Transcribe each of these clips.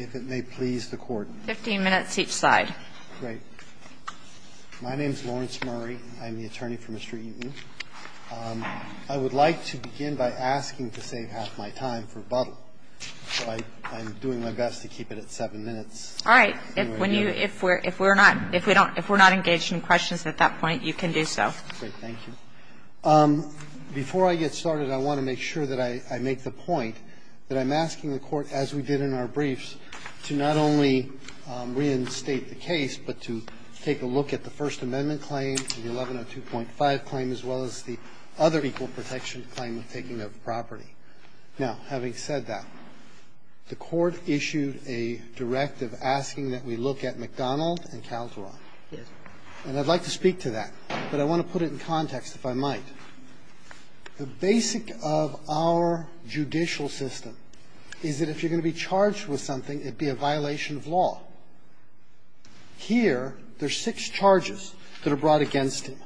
I would like to begin by asking to save half my time for a bottle. So I'm doing my best to keep it at seven minutes. All right. If we're not engaged in questions at that point, you can do so. Thank you. Before I get started, I want to make sure that I make the point that I'm asking the Court, as we did in our brief, to not only reinstate the case, but to take a look at the First Amendment claim, the 1102.5 claim, as well as the other equal protection claim of taking of property. Now, having said that, the Court issued a directive asking that we look at McDonald and Calderon. And I'd like to speak to that, but I want to put it in context, if I might. The basic of our judicial system is that if you're going to be charged with something, it'd be a violation of law. Here, there's six charges that are brought against him.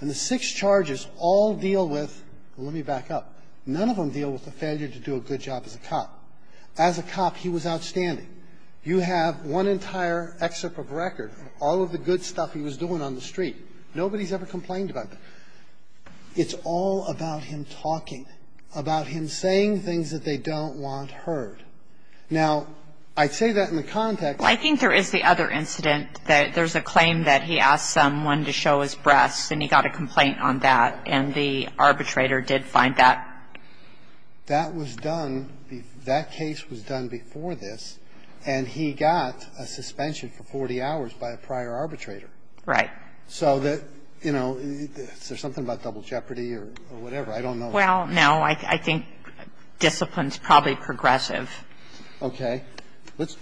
And the six charges all deal with the one you back up. None of them deal with the failure to do a good job as a cop. As a cop, he was outstanding. You have one entire excerpt of record, all of the good stuff he was doing on the street. Nobody's ever complained about that. It's all about him talking, about him saying things that they don't want heard. Now, I'd say that in the context of the case. Well, I think there is the other incident that there's a claim that he asked someone to show his breasts and he got a complaint on that, and the arbitrator did find that. That was done, that case was done before this, and he got a suspension for 40 hours by a prior arbitrator. Right. So that, you know, is there something about double jeopardy or whatever? I don't know. Well, no. I think discipline's probably progressive. Okay. Let's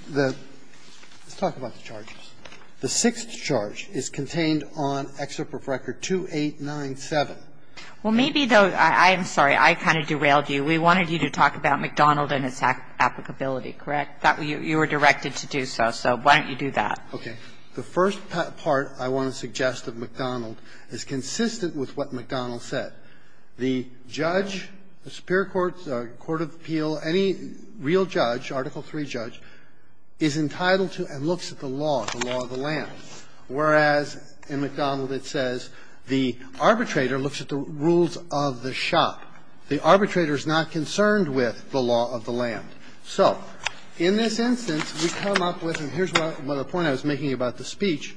talk about the charges. The sixth charge is contained on excerpt of record 2897. Well, maybe, though, I'm sorry, I kind of derailed you. We wanted you to talk about McDonald and its applicability, correct? You were directed to do so, so why don't you do that? Okay. The first part I want to suggest of McDonald is consistent with what McDonald said. The judge, the superior court, court of appeal, any real judge, Article III judge, is entitled to and looks at the law, the law of the land, whereas in McDonald it says the arbitrator looks at the rules of the shop. The arbitrator's not concerned with the law of the land. So in this instance, we come up with, and here's the point I was making about the speech,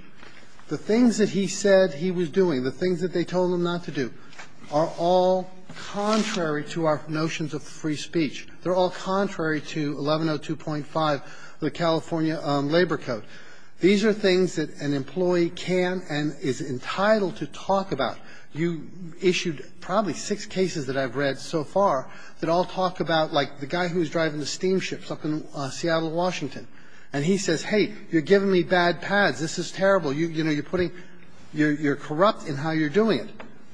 the things that he said he was doing, the things that they told him not to do, are all contrary to our notions of free speech. They're all contrary to 1102.5 of the California Labor Code. These are things that an employee can and is entitled to talk about. You issued probably six cases that I've read so far that all talk about, like, the guy who's driving the steamships up in Seattle, Washington, and he says, hey, you're giving me bad pads, this is terrible, you're corrupt in how you're doing it.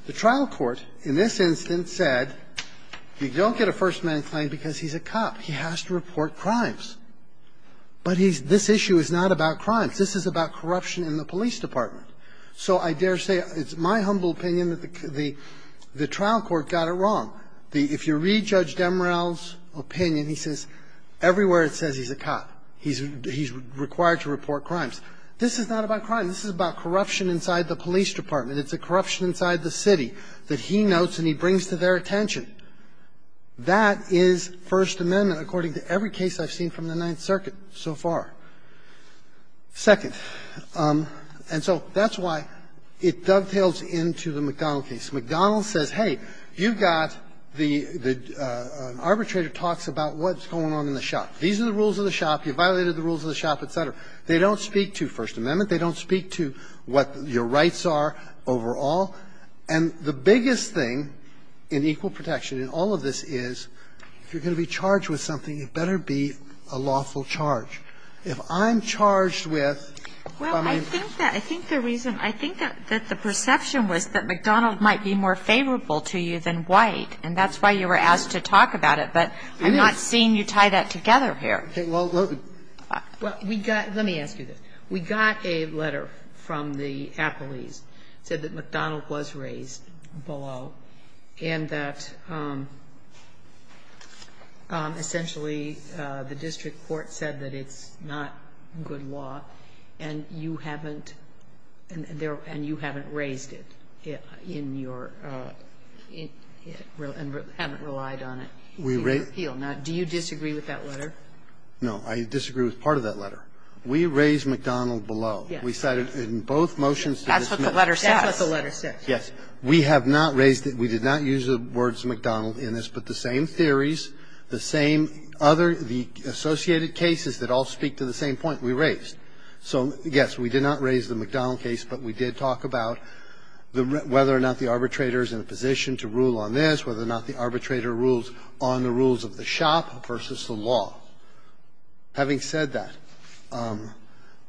The trial court in this instance said, you don't get a first-man claim because he's a cop, he has to report crimes. But this issue is not about crimes. This is about corruption in the police department. So I dare say it's my humble opinion that the trial court got it wrong. If you read Judge Demorell's opinion, he says everywhere it says he's a cop, he's required to report crimes. This is not about crime. This is about corruption inside the police department. It's a corruption inside the city that he notes and he brings to their attention. That is First Amendment according to every case I've seen from the Ninth Circuit so far. Second, and so that's why it dovetails into the McDonnell case. McDonnell says, hey, you've got the arbitrator talks about what's going on in the shop. These are the rules of the shop. You violated the rules of the shop, et cetera. They don't speak to First Amendment. They don't speak to what your rights are overall. And the biggest thing in equal protection in all of this is if you're going to be charged with something, it better be a lawful charge. If I'm charged with, I mean ---- I think the reason, I think that the perception was that McDonnell might be more favorable to you than White, and that's why you were asked to talk about it, but I'm not seeing you tie that together here. Well, we got ---- let me ask you this. We got a letter from the appellees, said that McDonnell was raised below and that And you haven't raised it in your ---- and haven't relied on it to your appeal. Now, do you disagree with that letter? No. I disagree with part of that letter. We raised McDonnell below. We cited in both motions to this ---- That's what the letter says. That's what the letter says. Yes. We have not raised it. We did not use the words McDonnell in this. But the same theories, the same other ---- the associated cases that all speak to the same point we raised. So, yes, we did not raise the McDonnell case, but we did talk about the ---- whether or not the arbitrator is in a position to rule on this, whether or not the arbitrator rules on the rules of the shop versus the law. Having said that,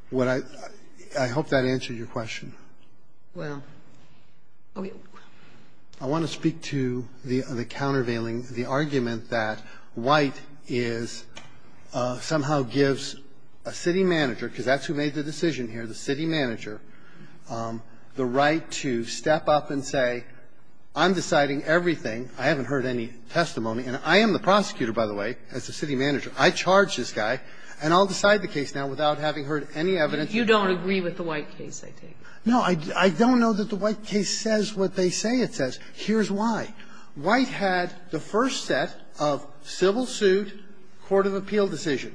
what I ---- I hope that answered your question. Well, I want to speak to the countervailing, the argument that White is ---- somehow gives a city manager, because that's who made the decision here, the city manager, the right to step up and say, I'm deciding everything, I haven't heard any testimony and I am the prosecutor, by the way, as the city manager, I charge this guy, and I'll decide the case now without having heard any evidence. You don't agree with the White case, I take it? No, I don't know that the White case says what they say it says. Here's why. White had the first set of civil suit, court of appeal decision.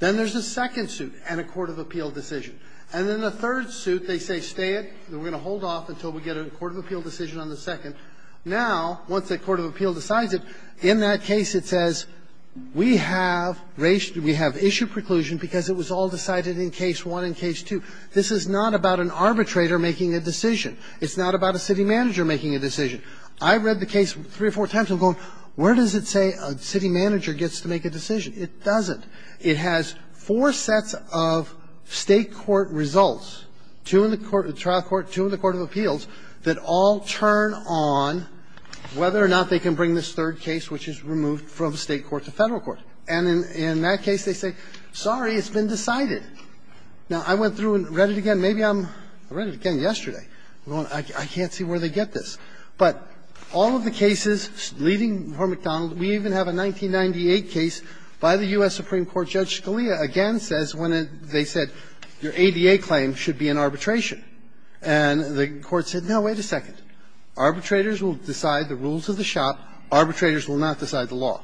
Then there's a second suit and a court of appeal decision. And then the third suit, they say, stay it, we're going to hold off until we get a court of appeal decision on the second. Now, once a court of appeal decides it, in that case it says, we have raised ---- we have issued preclusion because it was all decided in case one and case two. This is not about an arbitrator making a decision. It's not about a city manager making a decision. I read the case three or four times and I'm going, where does it say a city manager gets to make a decision? It doesn't. It has four sets of State court results, two in the court of trial court, two in the court of appeals, that all turn on whether or not they can bring this third case, which is removed from State court to Federal court. And in that case, they say, sorry, it's been decided. Now, I went through and read it again. Maybe I'm ---- I read it again yesterday. I can't see where they get this. But all of the cases leading for McDonald, we even have a 1998 case by the U.S. Supreme Court, Judge Scalia again says when it ---- they said, your ADA claim should be in arbitration. And the Court said, no, wait a second. Arbitrators will decide the rules of the shop. Arbitrators will not decide the law.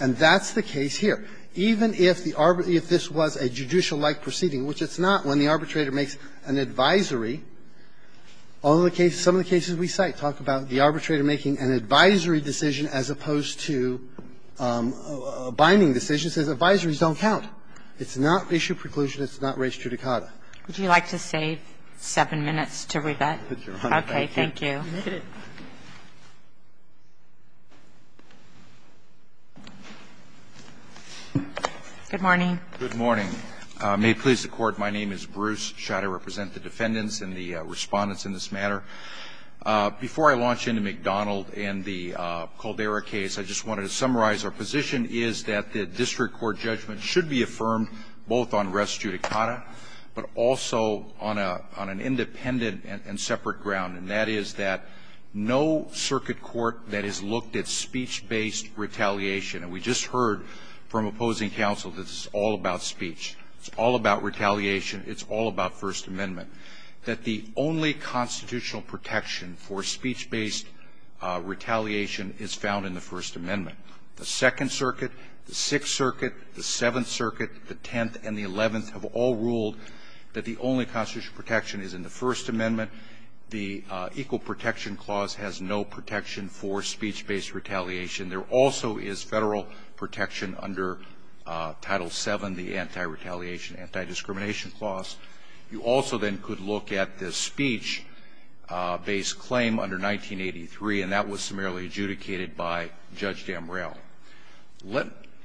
And that's the case here. Even if the arbitrager ---- if this was a judicial-like proceeding, which it's not when the arbitrator makes an advisory, all the cases, some of the cases we cite, we talk about the arbitrator making an advisory decision as opposed to a binding decision, says advisories don't count. It's not issue preclusion. It's not res judicata. Would you like to save seven minutes to rebut? Okay, thank you. Good morning. Good morning. May it please the Court, my name is Bruce Schott. I represent the defendants and the Respondents in this matter. Before I launch into McDonald and the Caldera case, I just wanted to summarize our position is that the district court judgment should be affirmed both on res judicata, but also on an independent and separate ground, and that is that no circuit court that has looked at speech-based retaliation, and we just heard from opposing counsel that this is all about speech, it's all about retaliation, it's all about speech, and we have to be clear in the first amendment that the only constitutional protection for speech-based retaliation is found in the first amendment. The Second Circuit, the Sixth Circuit, the Seventh Circuit, the Tenth, and the Eleventh have all ruled that the only constitutional protection is in the First Amendment. The Equal Protection Clause has no protection for speech-based retaliation. There also is Federal protection under Title VII, the Anti-Retaliation, Anti-Discrimination Clause. You also then could look at the speech-based claim under 1983, and that was summarily adjudicated by Judge Damrell.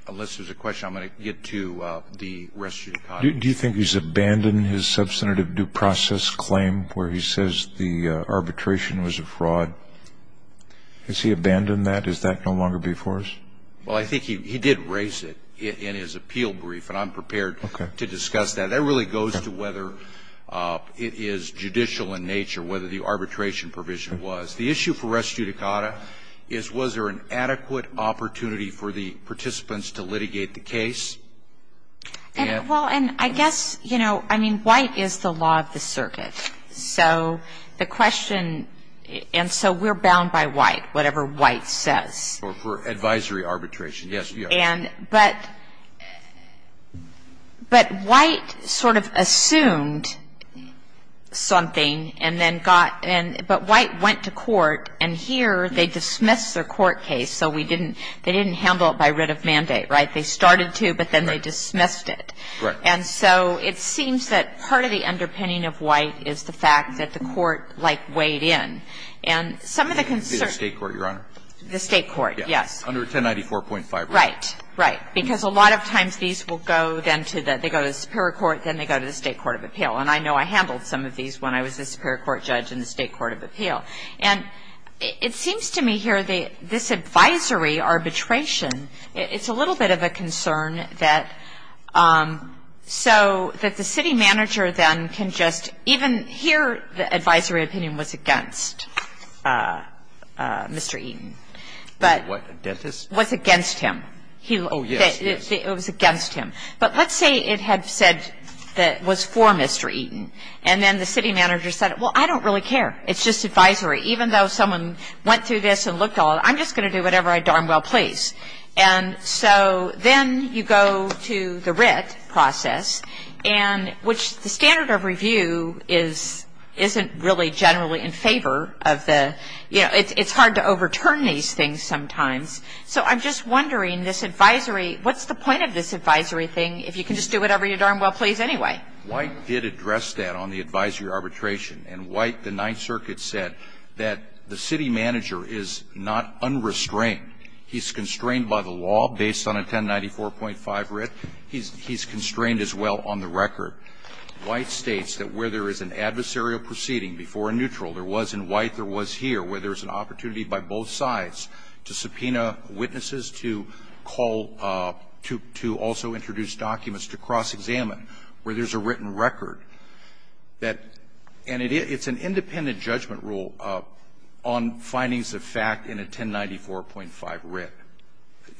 Unless there's a question, I'm going to get to the res judicata. Do you think he's abandoned his substantive due process claim where he says the arbitration was a fraud? Has he abandoned that? Does that no longer be for us? Well, I think he did raise it in his appeal brief, and I'm prepared to discuss that. That really goes to whether it is judicial in nature, whether the arbitration provision was. The issue for res judicata is was there an adequate opportunity for the participants to litigate the case? Well, and I guess, you know, I mean, White is the law of the circuit. So the question – and so we're bound by White, whatever White says. For advisory arbitration, yes. But White sort of assumed something and then got – but White went to court, and here they dismissed their court case, so we didn't – they didn't handle it by writ of mandate, right? They started to, but then they dismissed it. Right. And so it seems that part of the underpinning of White is the fact that the court, like, weighed in. And some of the concerns – The state court, Your Honor. The state court, yes. Under 1094.5. Right. Right. Because a lot of times these will go then to the – they go to the superior court, then they go to the state court of appeal. And I know I handled some of these when I was the superior court judge in the state court of appeal. And it seems to me here this advisory arbitration, it's a little bit of a concern that – so that the city manager then can just – even here the advisory opinion was against Mr. Eaton, but – What, a dentist? Was against him. He – Oh, yes, yes. It was against him. But let's say it had said that it was for Mr. Eaton, and then the city manager said, well, I don't really care. It's just advisory. Even though someone went through this and looked all – I'm just going to do whatever I darn well please. And so then you go to the writ process, and which the standard of review is – isn't really generally in favor of the – you know, it's hard to overturn these things sometimes. So I'm just wondering, this advisory – what's the point of this advisory thing if you can just do whatever you darn well please anyway? White did address that on the advisory arbitration. And White, the Ninth Circuit, said that the city manager is not unrestrained. He's constrained by the law based on a 1094.5 writ. He's constrained as well on the record. White states that where there is an adversarial proceeding before a neutral, there was in White, there was here, where there's an opportunity by both sides to subpoena witnesses, to call – to also introduce documents to cross-examine, where there's a written record. That – and it's an independent judgment rule on findings of fact in a 1094.5 writ.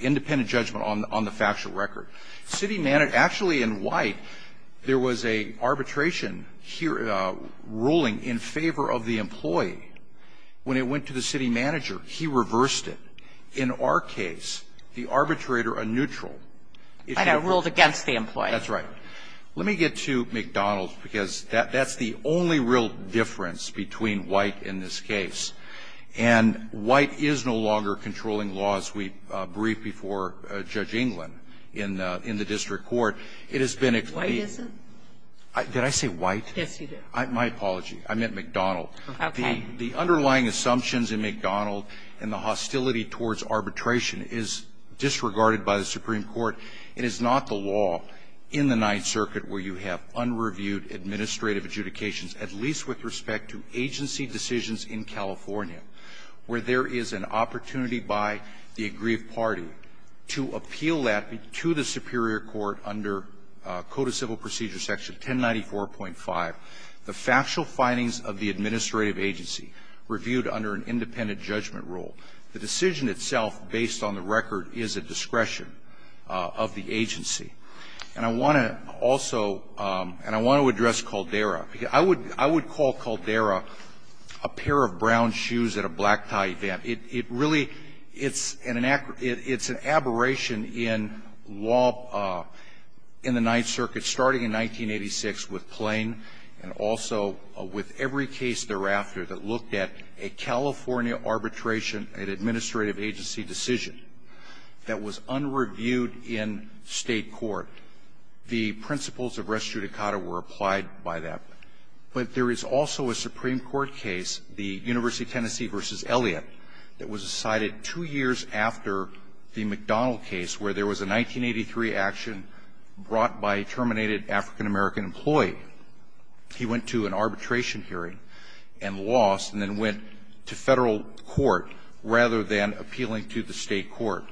Independent judgment on the factual record. City – actually, in White, there was a arbitration ruling in favor of the employee. When it went to the city manager, he reversed it. In our case, the arbitrator, a neutral – I know, ruled against the employee. That's right. Let me get to McDonald's, because that's the only real difference between White and this case. And White is no longer controlling law, as we briefed before Judge England in the district court. It has been explained – White isn't? Did I say White? Yes, you did. My apology. I meant McDonald. Okay. The underlying assumptions in McDonald and the hostility towards arbitration is disregarded by the Supreme Court. It is not the law in the Ninth Circuit where you have unreviewed administrative adjudications, at least with respect to agency decisions in California, where there is an opportunity by the aggrieved party to appeal that to the superior court under Code of Civil Procedure section 1094.5, the factual findings of the administrative agency reviewed under an independent judgment rule. The decision itself, based on the record, is at discretion of the agency. And I want to also – and I want to address Caldera. I would call Caldera a pair of brown shoes at a black tie event. It really – it's an aberration in law in the Ninth Circuit, starting in 1986 with Plain and also with every case thereafter that looked at a California arbitration and administrative agency decision that was unreviewed in State court. The principles of res judicata were applied by that. But there is also a Supreme Court case, the University of Tennessee v. Elliott, that was decided two years after the McDonald case, where there was a 1983 action brought by a terminated African-American employee. He went to an arbitration hearing and lost and then went to Federal court, rather than appealing to the State court.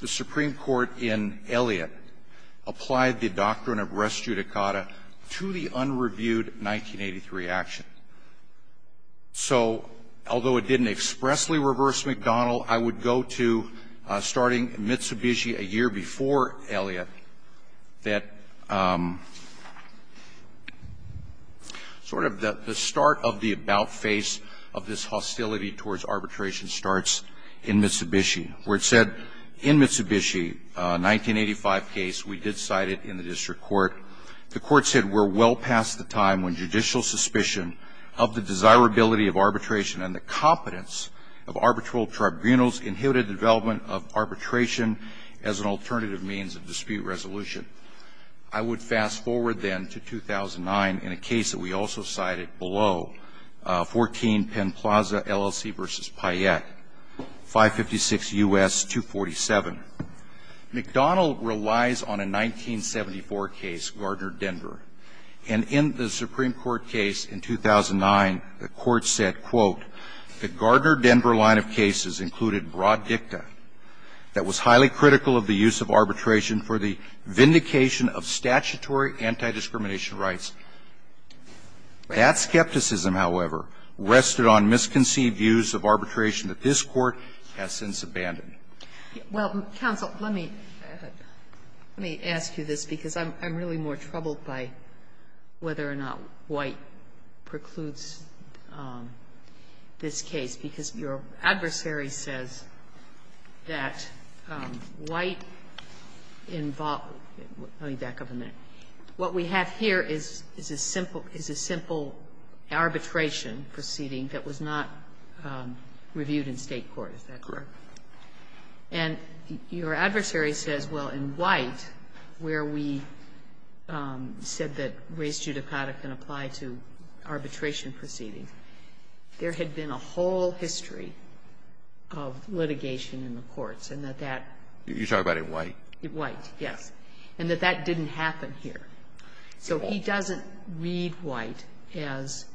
The Supreme Court in Elliott applied the doctrine of res judicata to the unreviewed 1983 action. So although it didn't expressly reverse McDonald, I would go to starting Mitsubishi a year before Elliott that sort of the start of the about face of this hostility towards arbitration starts in Mitsubishi, where it said in Mitsubishi, 1985 case, we did cite it in the district court. The court said, we're well past the time when judicial suspicion of the desirability of arbitration and the competence of arbitral tribunals inhibited the development of arbitration as an alternative means of dispute resolution. I would fast forward then to 2009 in a case that we also cited below, 14 Penn Plaza, LLC v. Payette, 556 U.S. 247. McDonald relies on a 1974 case, Gardner-Denver. And in the Supreme Court case in 2009, the court said, quote, the Gardner-Denver line of cases included broad dicta that was highly critical of the use of arbitration for the vindication of statutory anti-discrimination rights. That skepticism, however, rested on misconceived views of arbitration that this Court has since abandoned. Sotomayor Well, counsel, let me ask you this, because I'm really more troubled by whether or not White precludes this case, because your adversary says that White involved – let me back up a minute. What we have here is a simple – is a simple arbitration proceeding that was not reviewed in State court, is that correct? And your adversary says, well, in White, where we said that res judicata can apply to arbitration proceedings, there had been a whole history of litigation in the courts, and that that – You're talking about in White? White, yes. And that that didn't happen here. So he doesn't read White as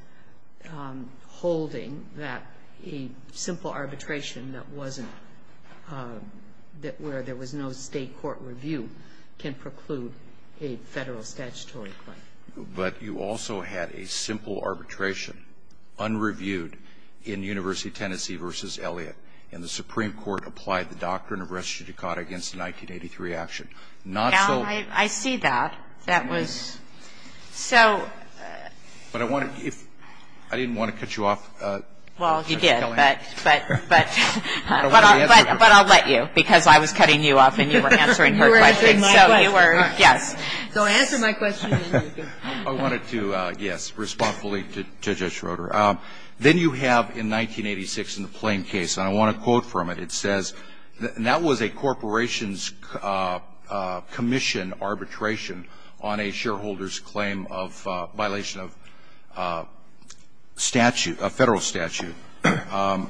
holding that a simple arbitration that wasn't – that where there was no State court review can preclude a Federal statutory claim. But you also had a simple arbitration, unreviewed, in University of Tennessee v. Elliott. And the Supreme Court applied the doctrine of res judicata against the 1983 action. Not so – Now, I see that. That was – so – But I want to – if – I didn't want to cut you off. Well, you did, but – but I'll let you, because I was cutting you off and you were answering her question. So you were – yes. So answer my question. I wanted to, yes, respond fully to Judge Schroeder. Then you have, in 1986, in the Plain case, and I want to quote from it. It says – and that was a corporation's commission arbitration on a shareholder's claim of violation of statute, a Federal statute. The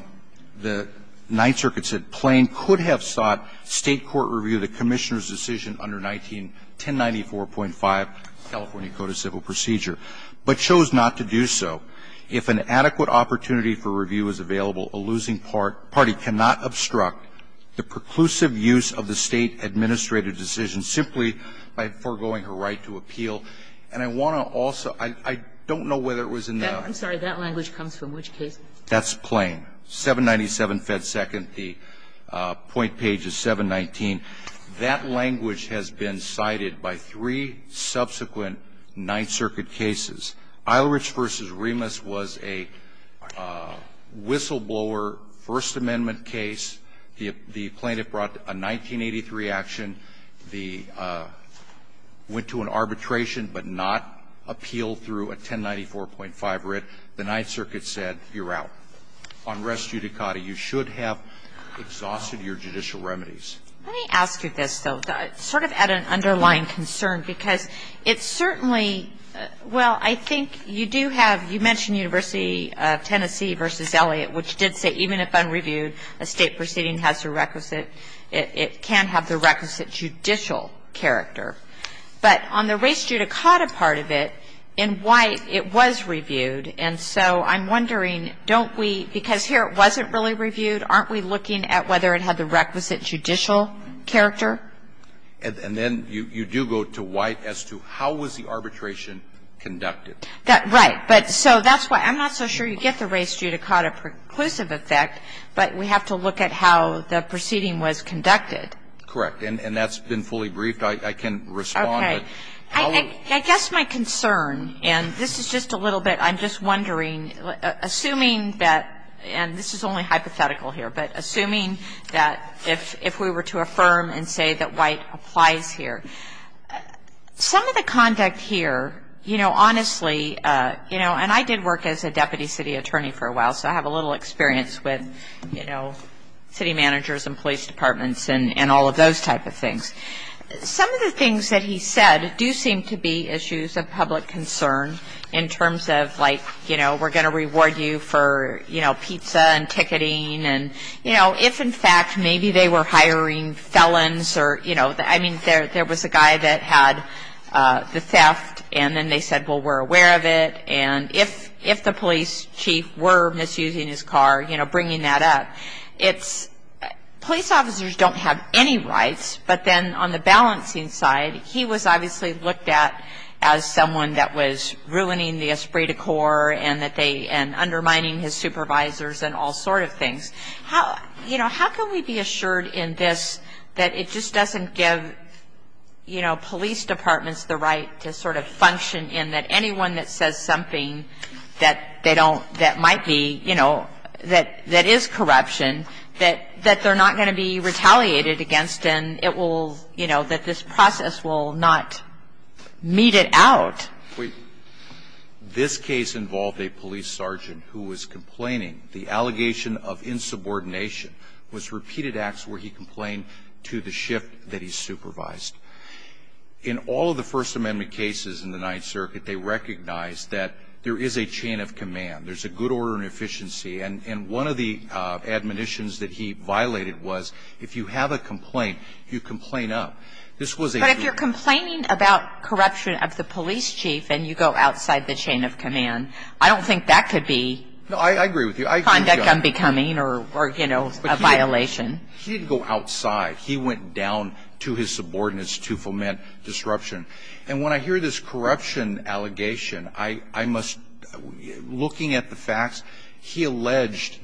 Ninth Circuit said Plain could have sought State court review of the Commissioner's decision under 1094.5 California Code of Civil Procedure, but chose not to do so. If an adequate opportunity for review is available, a losing party cannot obstruct the preclusive use of the State administrative decision simply by foregoing her right to appeal. And I want to also – I don't know whether it was in that – I'm sorry. That language comes from which case? That's Plain. 797 Fed Second, the point page is 719. That language has been cited by three subsequent Ninth Circuit cases. Eilerich v. Remus was a whistleblower, First Amendment case. The plaintiff brought a 1983 action. The – went to an arbitration, but not appealed through a 1094.5 writ. The Ninth Circuit said, you're out. On res judicata, you should have exhausted your judicial remedies. Let me ask you this, though, sort of at an underlying concern, because it certainly – well, I think you do have – you mentioned University of Tennessee v. Elliott, which did say even if unreviewed, a State proceeding has a requisite – it can have the requisite judicial character. But on the res judicata part of it, in White, it was reviewed. And so I'm wondering, don't we – because here it wasn't really reviewed. Aren't we looking at whether it had the requisite judicial character? And then you do go to White as to how was the arbitration conducted. Right. But so that's why – I'm not so sure you get the res judicata preclusive effect, but we have to look at how the proceeding was conducted. Correct. And that's been fully briefed. I can respond, but how would you? Okay. I guess my concern, and this is just a little bit – I'm just wondering, assuming that – and this is only hypothetical here, but assuming that if we were to affirm and say that White applies here, some of the conduct here, you know, honestly – you know, and I did work as a deputy city attorney for a while, so I have a little experience with, you know, city managers and police departments and all of those type of things. Some of the things that he said do seem to be issues of public concern in terms of, like, you know, we're going to reward you for, you know, pizza and ticketing and, you know, if in fact maybe they were hiring felons or, you know, I mean, there was a guy that had the theft, and then they said, well, we're aware of it, and if the police chief were misusing his car, you know, bringing that up, it's – police officers don't have any rights, but then on the balancing side, he was obviously looked at as someone that was ruining the esprit de corps and that they – and undermining his supervisors and all sort of things. How – you know, how can we be assured in this that it just doesn't give, you know, police departments the right to sort of function in that anyone that says something that they don't – that might be, you know, that is corruption, that they're not going to be retaliated against and it will, you know, that this process will not mete it out? Wait. This case involved a police sergeant who was complaining. The allegation of insubordination was repeated acts where he complained to the shift that he supervised. In all of the First Amendment cases in the Ninth Circuit, they recognized that there is a chain of command. There's a good order and efficiency, and one of the admonitions that he violated was if you have a complaint, you complain up. This was a – But if you're complaining about corruption of the police chief and you go outside the chain of command, I don't think that could be – No, I agree with you. Conduct unbecoming or, you know, a violation. He didn't go outside. He went down to his subordinates to foment disruption. And when I hear this corruption allegation, I must – looking at the facts, he alleged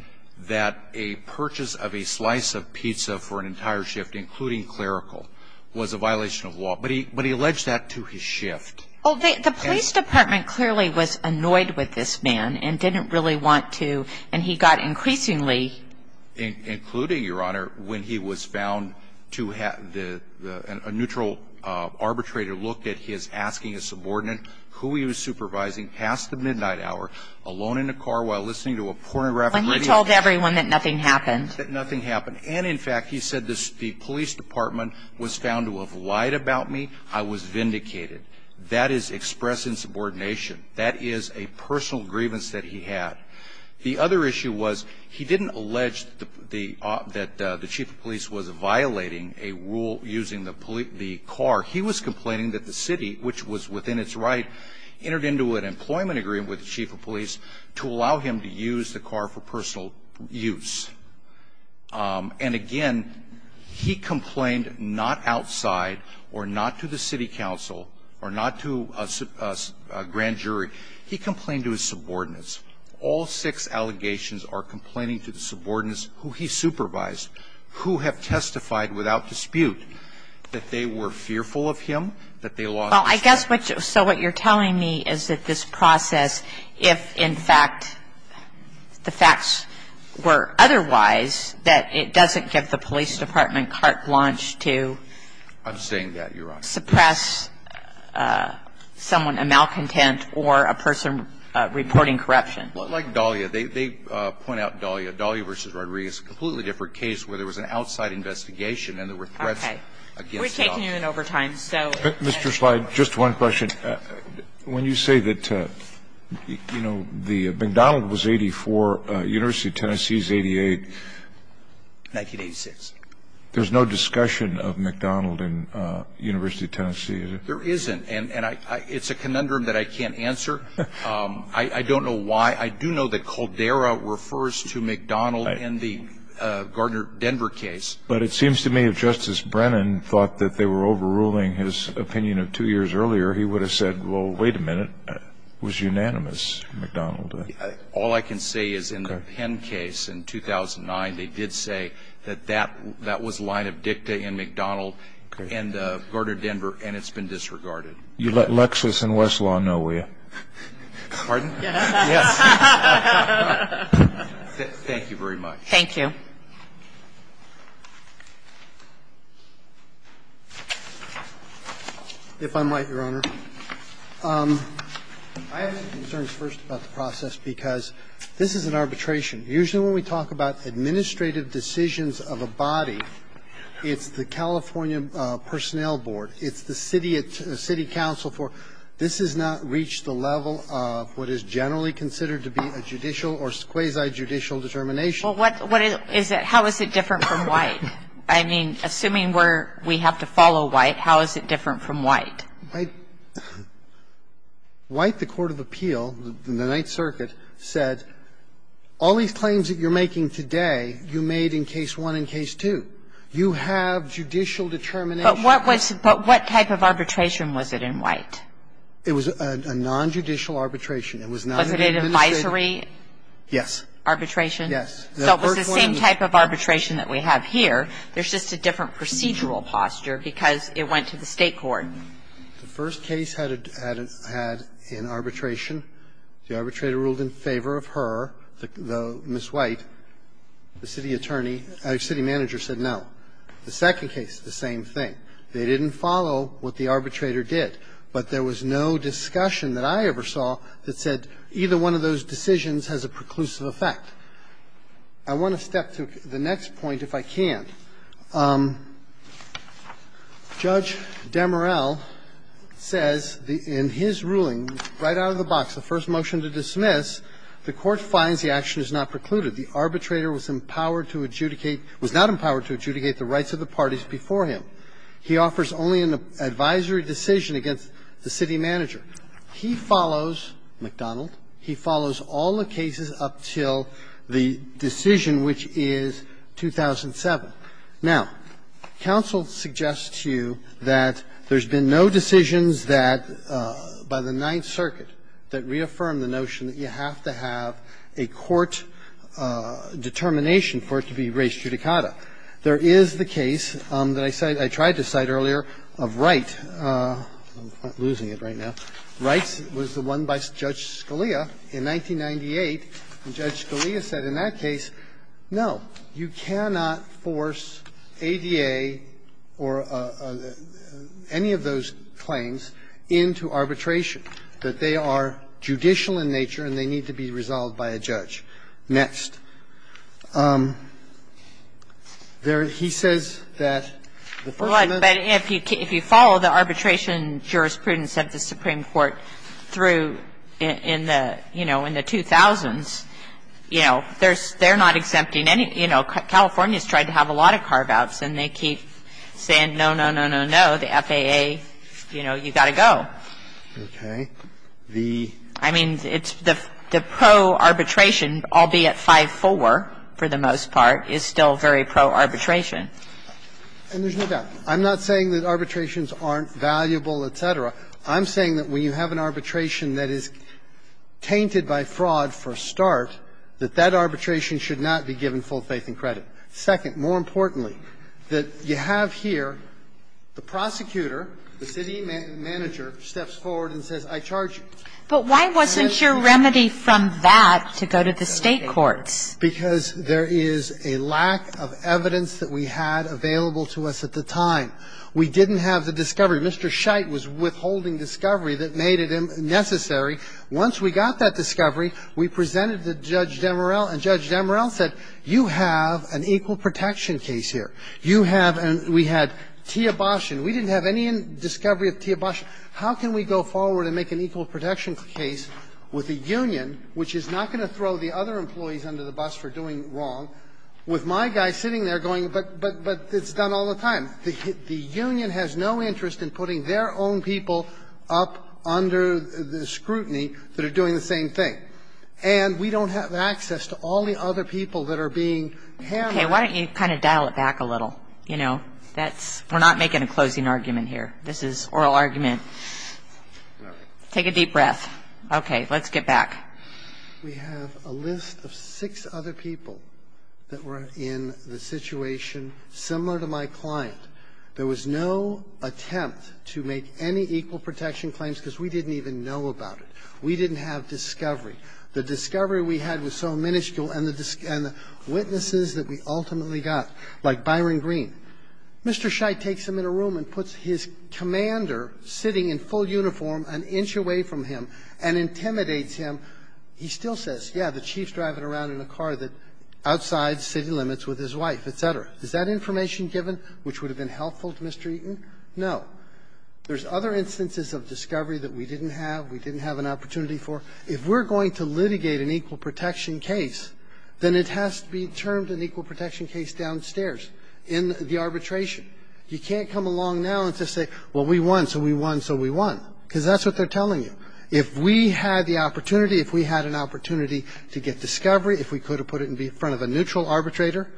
that a purchase of a slice of pizza for an entire shift, including clerical, was a violation of law, but he alleged that to his shift. Well, the police department clearly was annoyed with this man and didn't really want to, and he got increasingly – Including, Your Honor, when he was found to have – a neutral arbitrator looked at his asking a subordinate who he was supervising past the midnight hour, alone in a car while listening to a pornographic radio – When he told everyone that nothing happened. That nothing happened. And, in fact, he said the police department was found to have lied about me. I was vindicated. That is expressing subordination. That is a personal grievance that he had. The other issue was he didn't allege that the chief of police was violating a rule using the car. He was complaining that the city, which was within its right, entered into an employment agreement with the chief of police to allow him to use the car for personal use. And, again, he complained not outside or not to the city council or not to a grand jury. He complained to his subordinates. All six allegations are complaining to the subordinates who he supervised, who have testified without dispute that they were fearful of him, that they lost – Well, I guess what – so what you're telling me is that this process, if, in fact, the facts were otherwise, that it doesn't give the police department carte blanche to – I'm saying that, Your Honor. – suppress someone, a malcontent or a person reporting corruption. Like Dahlia. They point out Dahlia. Dahlia v. Rodriguez, a completely different case where there was an outside investigation and there were threats against Dahlia. Okay. We've taken you in over time, so – Mr. Slide, just one question. When you say that, you know, the – McDonald was 84, University of Tennessee is 88. 1986. There's no discussion of McDonald in University of Tennessee, is there? There isn't. And I – it's a conundrum that I can't answer. I don't know why. I do know that Caldera refers to McDonald in the Gardner Denver case. But it seems to me if Justice Brennan thought that they were overruling his opinion of two years earlier, he would have said, well, wait a minute, it was unanimous, McDonald. All I can say is in the Penn case in 2009, they did say that that was a line of dicta in McDonald and Gardner Denver, and it's been disregarded. You let Lexis and Westlaw know, will you? Pardon? Yes. Thank you very much. Thank you. If I might, Your Honor, I have some concerns, first, about the process, because this is an arbitration. Usually, when we talk about administrative decisions of a body, it's the California Personnel Board, it's the city council for – this has not reached the level of what is generally considered to be a judicial or quasi-judicial determination. Well, what is it – how is it different from White? I mean, assuming we're – we have to follow White, how is it different from White? White, the court of appeal in the Ninth Circuit, said, all these claims that you're making today, you made in Case 1 and Case 2. You have judicial determination. But what was – but what type of arbitration was it in White? It was a nonjudicial arbitration. It was not an administrative. Was it an advisory? Yes. Arbitration? Yes. So it was the same type of arbitration that we have here. There's just a different procedural posture, because it went to the State court. The first case had an arbitration. The arbitrator ruled in favor of her, Ms. White. The city attorney – city manager said no. The second case, the same thing. They didn't follow what the arbitrator did. But there was no discussion that I ever saw that said either one of those decisions has a preclusive effect. I want to step to the next point, if I can. Judge Demorell says in his ruling, right out of the box, the first motion to dismiss, the court finds the action is not precluded. The arbitrator was empowered to adjudicate – was not empowered to adjudicate the rights of the parties before him. He offers only an advisory decision against the city manager. He follows, McDonald, he follows all the cases up till the first case. The decision, which is 2007. Now, counsel suggests to you that there's been no decisions that, by the Ninth Circuit, that reaffirmed the notion that you have to have a court determination for it to be res judicata. There is the case that I said – I tried to cite earlier of Wright. I'm losing it right now. Wright was the one by Judge Scalia in 1998. And Judge Scalia said in that case, no, you cannot force ADA or any of those claims into arbitration, that they are judicial in nature and they need to be resolved by a judge. Next. There – he says that the first motion to dismiss is not precluded. It's not precluded, but it's not precluded, but it's not precluded, but it's not precluded, but it's not precluded, but it's not precluded, but it's not precluded. And so, you know, through – in the, you know, in the 2000s, you know, there's – they're not exempting any – you know, California's tried to have a lot of carve-outs and they keep saying, no, no, no, no, no, the FAA, you know, you got to go. Okay. The – I mean, it's the pro-arbitration, albeit 5-4 for the most part, is still very pro-arbitration. And there's no doubt. I'm not saying that arbitrations aren't valuable, et cetera. I'm saying that when you have an arbitration that is tainted by fraud for a start, that that arbitration should not be given full faith and credit. Second, more importantly, that you have here the prosecutor, the city manager, steps forward and says, I charge you. But why wasn't your remedy from that to go to the State courts? Because there is a lack of evidence that we had available to us at the time. We didn't have the discovery. Mr. Scheidt was withholding discovery that made it necessary. Once we got that discovery, we presented it to Judge Demorell, and Judge Demorell said, you have an equal protection case here. You have an – we had Tia Bastian. We didn't have any discovery of Tia Bastian. How can we go forward and make an equal protection case with the union, which is not going to throw the other employees under the bus for doing wrong, with my guy sitting there going, but it's done all the time? The union has no interest in putting their own people up under the scrutiny that are doing the same thing. And we don't have access to all the other people that are being handled. Okay. Why don't you kind of dial it back a little, you know? That's – we're not making a closing argument here. This is oral argument. Take a deep breath. Okay. Let's get back. We have a list of six other people that were in the situation similar to my client. There was no attempt to make any equal protection claims because we didn't even know about it. We didn't have discovery. The discovery we had was so minuscule, and the witnesses that we ultimately got, like Byron Green. Mr. Scheidt takes him in a room and puts his commander sitting in full uniform an inch away from him and intimidates him. He still says, yeah, the chief's driving around in a car that's outside city limits with his wife, et cetera. Is that information given which would have been helpful to Mr. Eaton? No. There's other instances of discovery that we didn't have, we didn't have an opportunity for. If we're going to litigate an equal protection case, then it has to be termed an equal protection case downstairs in the arbitration. You can't come along now and just say, well, we won, so we won, so we won, because that's what they're telling you. If we had the opportunity, if we had an opportunity to get discovery, if we could have put it in front of a neutral arbitrator,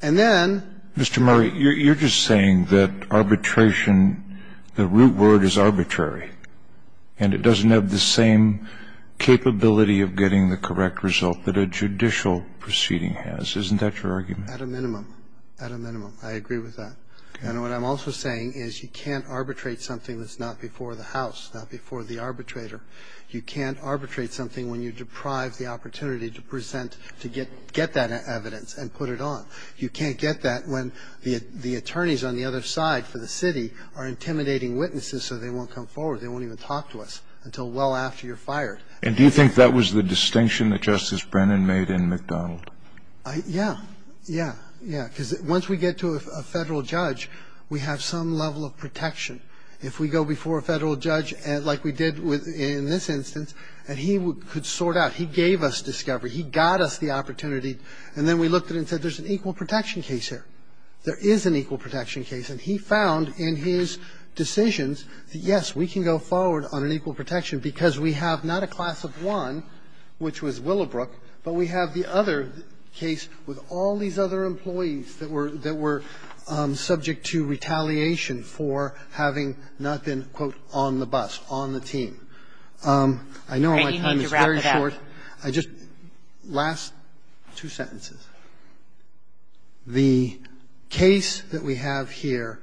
and then — Mr. Murray, you're just saying that arbitration, the root word is arbitrary, and it doesn't have the same capability of getting the correct result that a judicial proceeding has. Isn't that your argument? At a minimum. At a minimum. I agree with that. And what I'm also saying is you can't arbitrate something that's not before the House, not before the arbitrator. You can't arbitrate something when you deprive the opportunity to present, to get that evidence and put it on. You can't get that when the attorneys on the other side for the city are intimidating witnesses so they won't come forward, they won't even talk to us until well after you're fired. And do you think that was the distinction that Justice Brennan made in McDonald? Yeah. Yeah. Yeah. Because once we get to a federal judge, we have some level of protection. If we go before a federal judge, like we did in this instance, and he could sort out, he gave us discovery, he got us the opportunity, and then we looked at it and said, there's an equal protection case here. There is an equal protection case. And he found in his decisions that, yes, we can go forward on an equal protection because we have not a class of one, which was Willowbrook, but we have the other case with all these other employees that were subject to retaliation for having not been, quote, on the bus, on the team. I know my time is very short. I just, last two sentences. The case that we have here,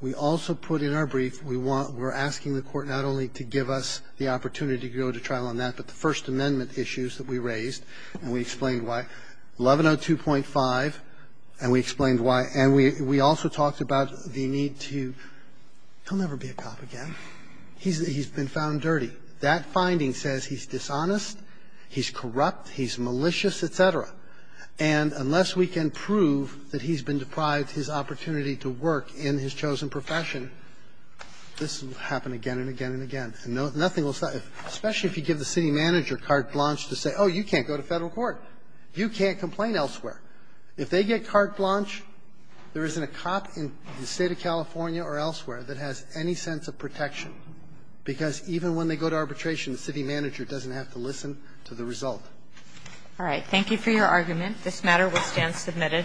we also put in our brief, we want, we're asking the Court not only to give us the opportunity to go to trial on that, but the First Amendment issues that we raised, and we explained why. 1102.5, and we explained why. And we also talked about the need to, he'll never be a cop again. He's been found dirty. That finding says he's dishonest, he's corrupt, he's malicious, et cetera. And unless we can prove that he's been deprived his opportunity to work in his chosen profession, this will happen again and again and again. And nothing will stop you, especially if you give the city manager carte blanche to say, oh, you can't go to Federal court, you can't complain elsewhere. If they get carte blanche, there isn't a cop in the State of California or elsewhere that has any sense of protection, because even when they go to arbitration, the city manager doesn't have to listen to the result. All right. Thank you for your argument. This matter will stand submitted.